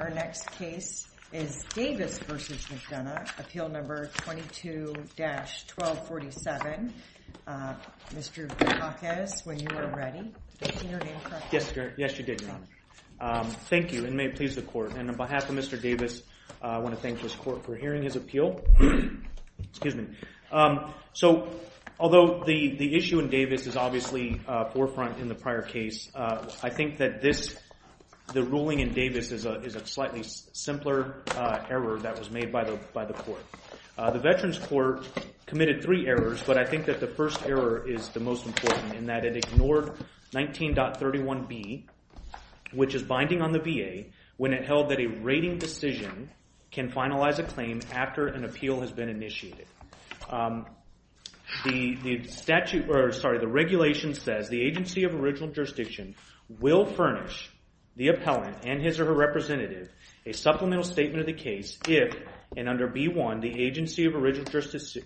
Our next case is Davis v. McDonough, Appeal No. 22-1247. Mr. Dukakis, when you were ready, did I say your name correctly? Yes, you did, Your Honor. Thank you, and may it please the Court. And on behalf of Mr. Davis, I want to thank this Court for hearing his appeal. So, although the issue in Davis is obviously forefront in the prior case, I think that the ruling in Davis is a slightly simpler error that was made by the Court. The Veterans Court committed three errors, but I think that the first error is the most important, in that it ignored 19.31b, which is binding on the VA, when it held that a rating decision can finalize a claim after an appeal has been initiated. The regulation says, the agency of original jurisdiction will furnish the appellant and his or her representative a supplemental statement of the case if, and under b)(1), the agency of original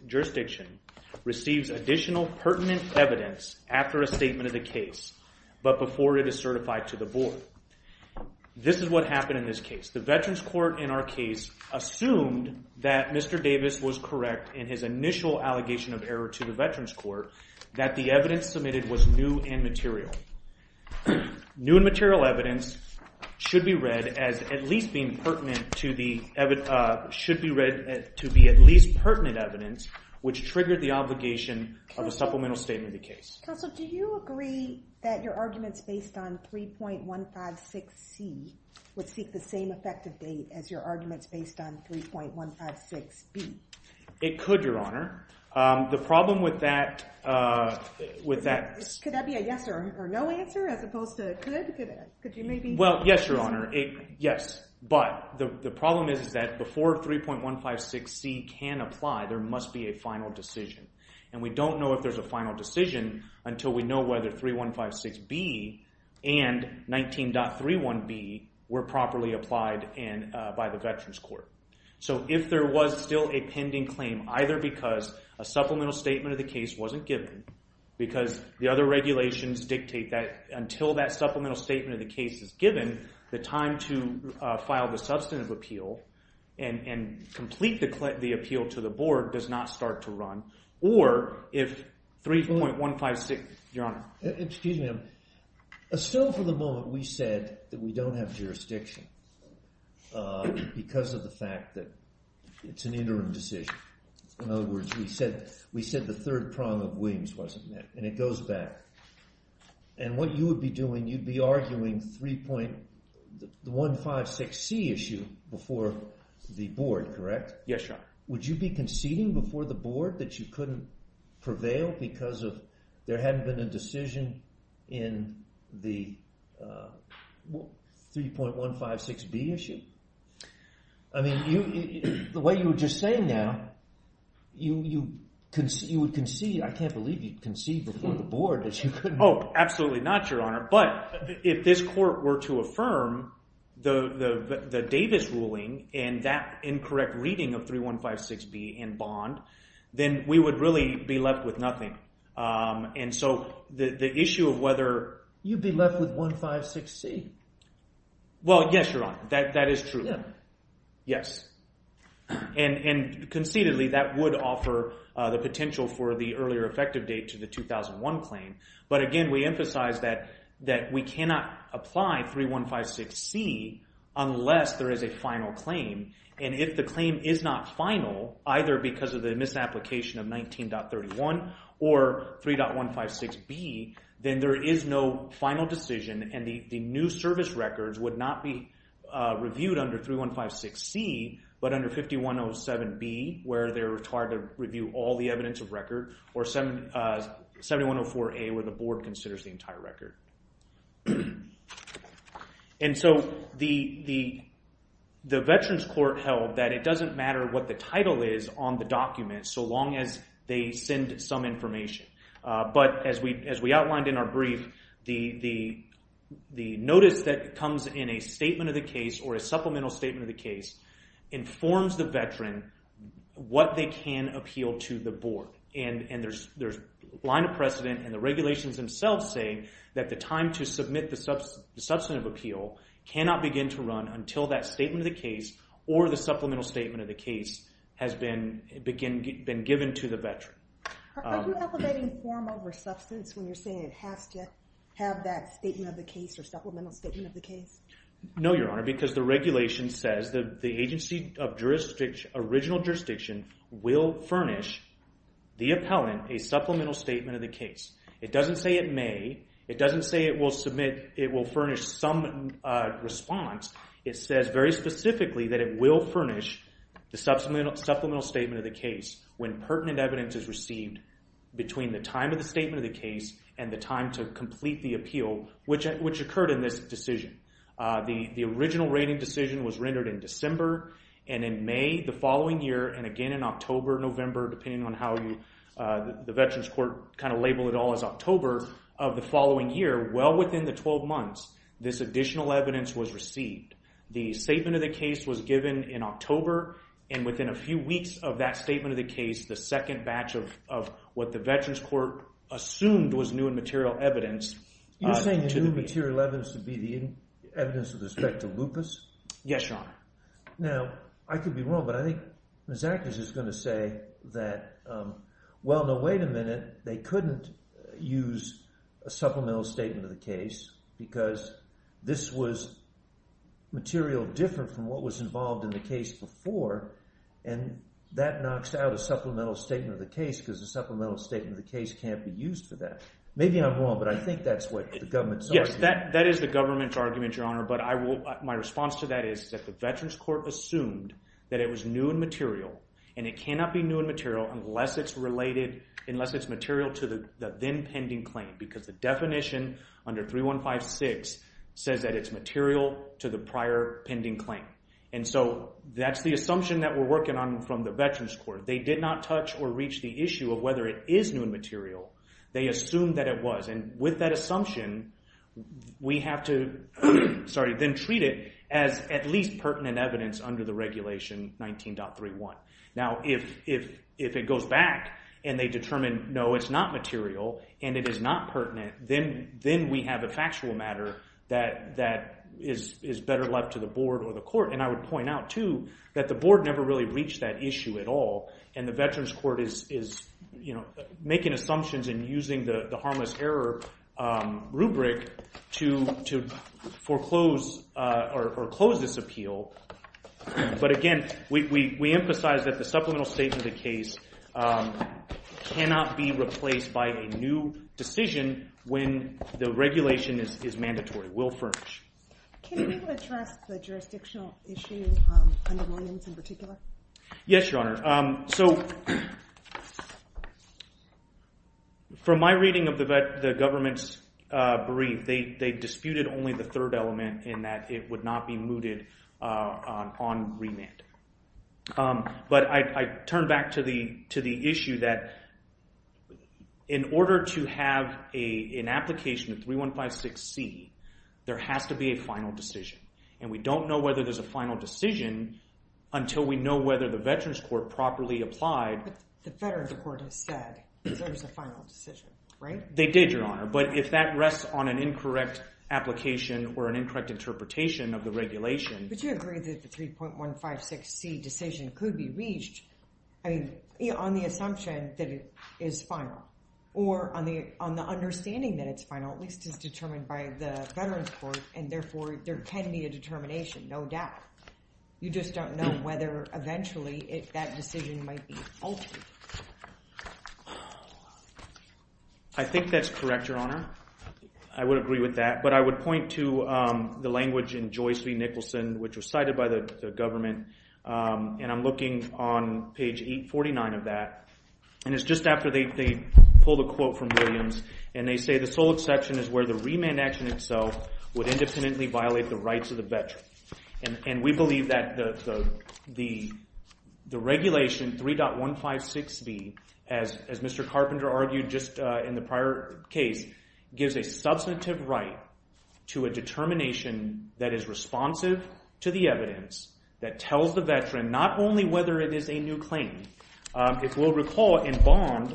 jurisdiction receives additional pertinent evidence after a statement of the case, but before it is certified to the Board. This is what happened in this case. The Veterans Court, in our case, assumed that Mr. Davis was correct in his initial allegation of error to the Veterans Court, but the evidence submitted was new and material. New and material evidence should be read as at least being pertinent to the evidence, should be read to be at least pertinent evidence, which triggered the obligation of a supplemental statement of the case. Counsel, do you agree that your arguments based on 3.156c would seek the same effective date as your arguments based on 3.156b? It could, Your Honor. The problem with that... Could that be a yes or no answer as opposed to could? Could you maybe... Well, yes, Your Honor. Yes, but the problem is that before 3.156c can apply, there must be a final decision, and we don't know if there's a final decision until we know whether 3.156b and 19.31b were properly applied by the Veterans Court. So if there was still a pending claim, either because a supplemental statement of the case wasn't given, because the other regulations dictate that until that supplemental statement of the case is given, the time to file the substantive appeal and complete the appeal to the board does not start to run, or if 3.156... Your Honor. Excuse me. Still, for the moment, we said that we don't have jurisdiction because of the fact that it's an interim decision. In other words, we said the third prong of Williams wasn't met, and it goes back. And what you would be doing, you'd be arguing 3.156c issue before the board, correct? Yes, Your Honor. Would you be conceding before the board that you couldn't prevail because there hadn't been a decision in the 3.156b issue? I mean, the way you were just saying now, you would concede. I can't believe you'd concede before the board that you couldn't... Oh, absolutely not, Your Honor. But if this court were to affirm the Davis ruling and that incorrect reading of 3.156b in bond, then we would really be left with nothing. And so the issue of whether... You'd be left with 1.56c. Well, yes, Your Honor. That is true. Yes. And concededly, that would offer the potential for the earlier effective date to the 2001 claim. But again, we emphasize that we cannot apply 3.156c unless there is a final claim. And if the claim is not final, either because of the misapplication of 19.31 or 3.156b, then there is no final decision, and the new service records would not be reviewed under 3.156c, but under 5107b, where they're the board considers the entire record. And so the veterans court held that it doesn't matter what the title is on the document so long as they send some information. But as we outlined in our brief, the notice that comes in a statement of the case or a supplemental statement of the case informs the veteran what they can appeal to the board. And there's a line of precedent, and the regulations themselves say that the time to submit the substantive appeal cannot begin to run until that statement of the case or the supplemental statement of the case has been given to the veteran. Are you elevating form over substance when you're saying it has to have that statement of the case or supplemental statement of the case? No, Your Honor, because the regulation says that the agency of original jurisdiction will furnish the appellant a supplemental statement of the case. It doesn't say it may. It doesn't say it will furnish some response. It says very specifically that it will furnish the supplemental statement of the case when pertinent evidence is received between the time of the statement of the case and the time to complete the appeal, which occurred in this decision. The original rating decision was rendered in December, and in May the following year, and again in October, November, depending on how the Veterans Court kind of labeled it all as October, of the following year, well within the 12 months, this additional evidence was received. The statement of the case was given in October, and within a few weeks of that statement of the case, the second batch of what the Veterans Court assumed was new and material evidence You're saying the new material evidence would be the evidence with respect to lupus? Yes, Your Honor. Now, I could be wrong, but I think Ms. Ackers is going to say that, well, no, wait a minute, they couldn't use a supplemental statement of the case because this was material different from what was involved in the case before, and that knocks out a supplemental statement of the case because a supplemental statement of the case can't be used for that. Maybe I'm wrong, but I think that's what the government's argument is. But my response to that is that the Veterans Court assumed that it was new and material, and it cannot be new and material unless it's related, unless it's material to the then pending claim because the definition under 3156 says that it's material to the prior pending claim. And so that's the assumption that we're working on from the Veterans Court. They did not touch or reach the issue of whether it is new and material. They assumed that it was, and with that assumption, we have to then treat it as at least pertinent evidence under the regulation 19.31. Now, if it goes back and they determine, no, it's not material and it is not pertinent, then we have a factual matter that is better left to the board or the court. And I would point out, too, that the board never really reached that issue at all, and the Veterans Court is making assumptions and using the harmless error rubric to foreclose or close this appeal. But again, we emphasize that the supplemental statement of the case cannot be replaced by a new decision when the regulation is mandatory, will furnish. Can you address the jurisdictional issue under Williams in particular? Yes, Your Honor. So from my reading of the government's brief, they disputed only the third element in that it would not be mooted on remand. But I turn back to the issue that in order to have an application of 3156C, there has to be a final decision. And we don't know whether there's a final decision until we know whether the Veterans Court properly applied. But the Veterans Court has said there's a final decision, right? They did, Your Honor. But if that rests on an incorrect application or an incorrect interpretation of the regulation… But you agree that the 3.156C decision could be reached on the assumption that it is final or on the understanding that it's final, at least as determined by the Veterans Court, and therefore there can be a determination, no doubt. You just don't know whether eventually that decision might be altered. I think that's correct, Your Honor. I would agree with that. But I would point to the language in Joyce v. Nicholson, which was cited by the government, and I'm looking on page 849 of that. And it's just after they pull the quote from Williams, and they say the sole exception is where the remand action itself would independently violate the rights of the veteran. And we believe that the regulation 3.156B, as Mr. Carpenter argued just in the prior case, gives a substantive right to a determination that is responsive to the evidence that tells the veteran not only whether it is a new claim. If we'll recall, in Bond,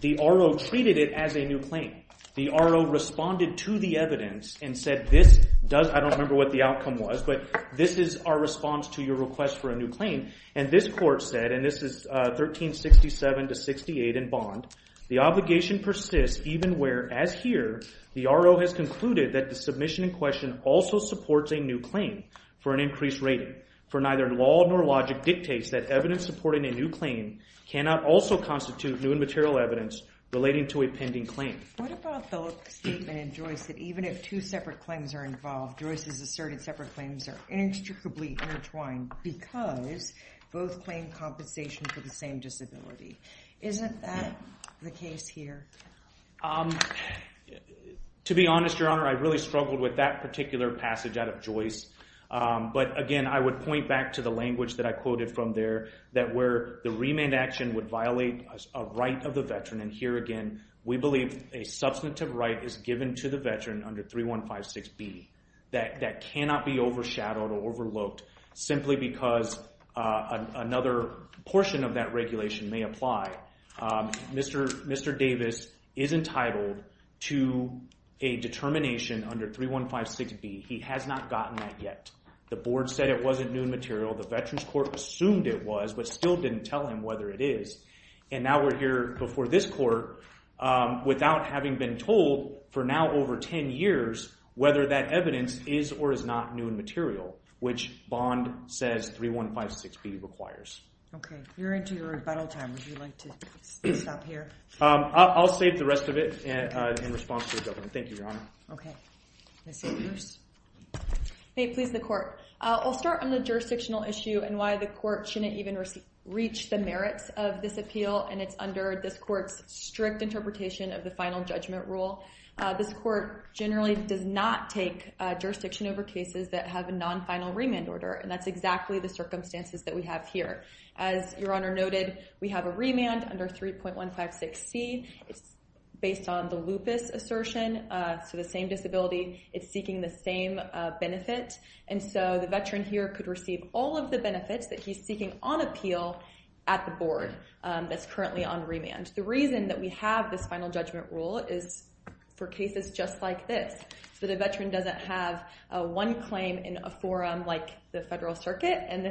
the R.O. treated it as a new claim. The R.O. responded to the evidence and said, I don't remember what the outcome was, but this is our response to your request for a new claim. And this court said, and this is 1367-68 in Bond, the obligation persists even where, as here, the R.O. has concluded that the submission in question also supports a new claim for an increased rating, for neither law nor logic dictates that evidence supporting a new claim cannot also constitute new and material evidence relating to a pending claim. What about the statement in Joyce that even if two separate claims are involved, Joyce's asserted separate claims are inextricably intertwined because both claim compensation for the same disability? Isn't that the case here? To be honest, Your Honor, I really struggled with that particular passage out of Joyce. But, again, I would point back to the language that I quoted from there that where the remand action would violate a right of the veteran, and here again we believe a substantive right is given to the veteran under 3156B that cannot be overshadowed or overlooked simply because another portion of that regulation may apply. Mr. Davis is entitled to a determination under 3156B. He has not gotten that yet. The board said it wasn't new and material. The Veterans Court assumed it was but still didn't tell him whether it is. And now we're here before this court without having been told for now over 10 years whether that evidence is or is not new and material, which Bond says 3156B requires. Okay. You're into your rebuttal time. Would you like to stop here? I'll save the rest of it in response to the government. Thank you, Your Honor. Okay. Ms. Savers? May it please the Court. I'll start on the jurisdictional issue and why the Court shouldn't even reach the merits of this appeal, and it's under this Court's strict interpretation of the final judgment rule. This Court generally does not take jurisdiction over cases that have a non-final remand order, and that's exactly the circumstances that we have here. As Your Honor noted, we have a remand under 3.156C. It's based on the lupus assertion, so the same disability. It's seeking the same benefit, and so the veteran here could receive all of the benefits that he's seeking on appeal at the board that's currently on remand. The reason that we have this final judgment rule is for cases just like this, so the veteran doesn't have one claim in a forum like the federal circuit and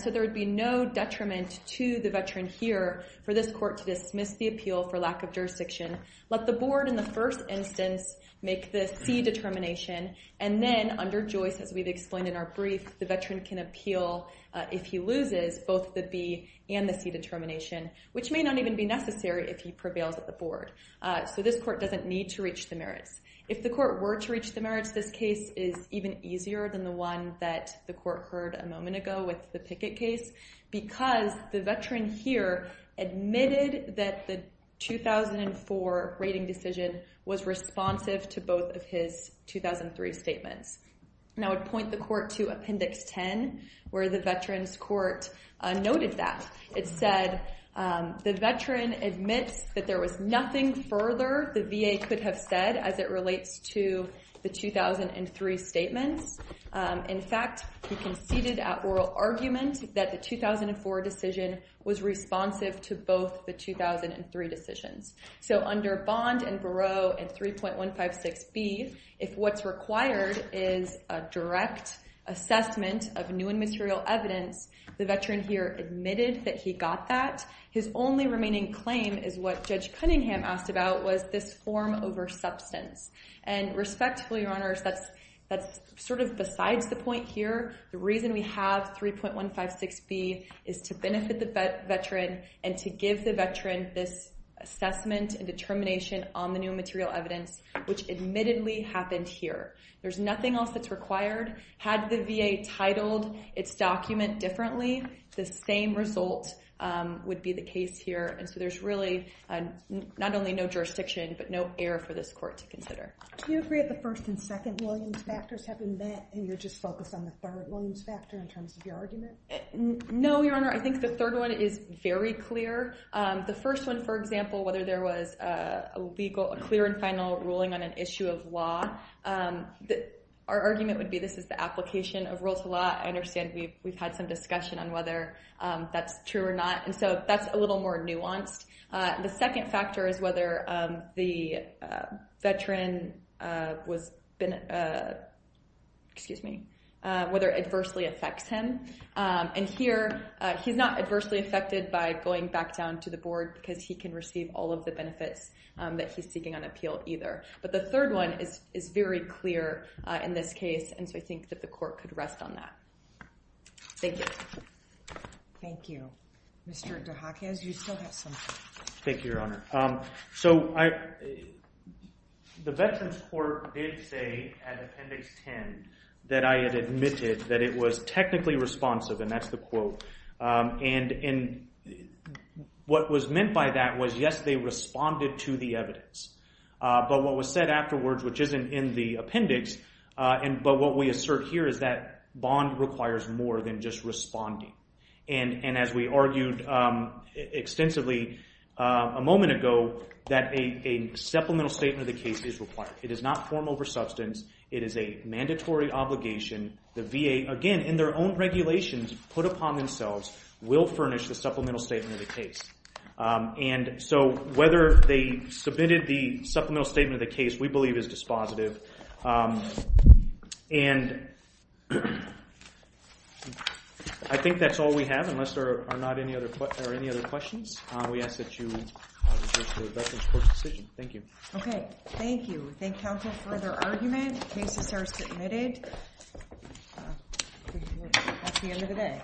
so there would be no detriment to the veteran here for this Court to dismiss the appeal for lack of jurisdiction, let the board in the first instance make the C determination, and then under Joyce, as we've explained in our brief, the veteran can appeal if he loses both the B and the C determination, which may not even be necessary if he prevails at the board. So this Court doesn't need to reach the merits. If the Court were to reach the merits, this case is even easier than the one that the Court heard a moment ago with the Pickett case because the veteran here admitted that the 2004 rating decision was responsive to both of his 2003 statements. And I would point the Court to Appendix 10 where the Veterans Court noted that. It said the veteran admits that there was nothing further the VA could have said as it relates to the 2003 statements. In fact, he conceded at oral argument that the 2004 decision was responsive to both the 2003 decisions. So under Bond and Barreau and 3.156B, if what's required is a direct assessment of new and material evidence, the veteran here admitted that he got that. In fact, his only remaining claim is what Judge Cunningham asked about was this form over substance. And respectfully, Your Honors, that's sort of besides the point here. The reason we have 3.156B is to benefit the veteran and to give the veteran this assessment and determination on the new material evidence, which admittedly happened here. There's nothing else that's required. Had the VA titled its document differently, the same result would be the case here. And so there's really not only no jurisdiction but no error for this Court to consider. Do you agree that the first and second Williams factors have been met and you're just focused on the third Williams factor in terms of your argument? No, Your Honor. I think the third one is very clear. The first one, for example, whether there was a legal clear and final ruling on an issue of law, our argument would be this is the application of rules of law. I understand we've had some discussion on whether that's true or not. And so that's a little more nuanced. The second factor is whether the veteran was been, excuse me, whether adversely affects him. And here, he's not adversely affected by going back down to the board because he can receive all of the benefits that he's seeking on appeal either. But the third one is very clear in this case. And so I think that the Court could rest on that. Thank you. Thank you. Mr. DeHakis, you still have some time. Thank you, Your Honor. So the Veterans Court did say at Appendix 10 that I had admitted that it was technically responsive, and that's the quote. And what was meant by that was, yes, they responded to the evidence. But what was said afterwards, which isn't in the appendix, but what we assert here is that bond requires more than just responding. And as we argued extensively a moment ago, that a supplemental statement of the case is required. It does not form over substance. It is a mandatory obligation. The VA, again, in their own regulations, put upon themselves, will furnish the supplemental statement of the case. And so whether they submitted the supplemental statement of the case we believe is dispositive. And I think that's all we have unless there are not any other questions. We ask that you address the Veterans Court's decision. Thank you. Okay, thank you. Thank counsel for their argument. Cases are submitted. That's the end of the day.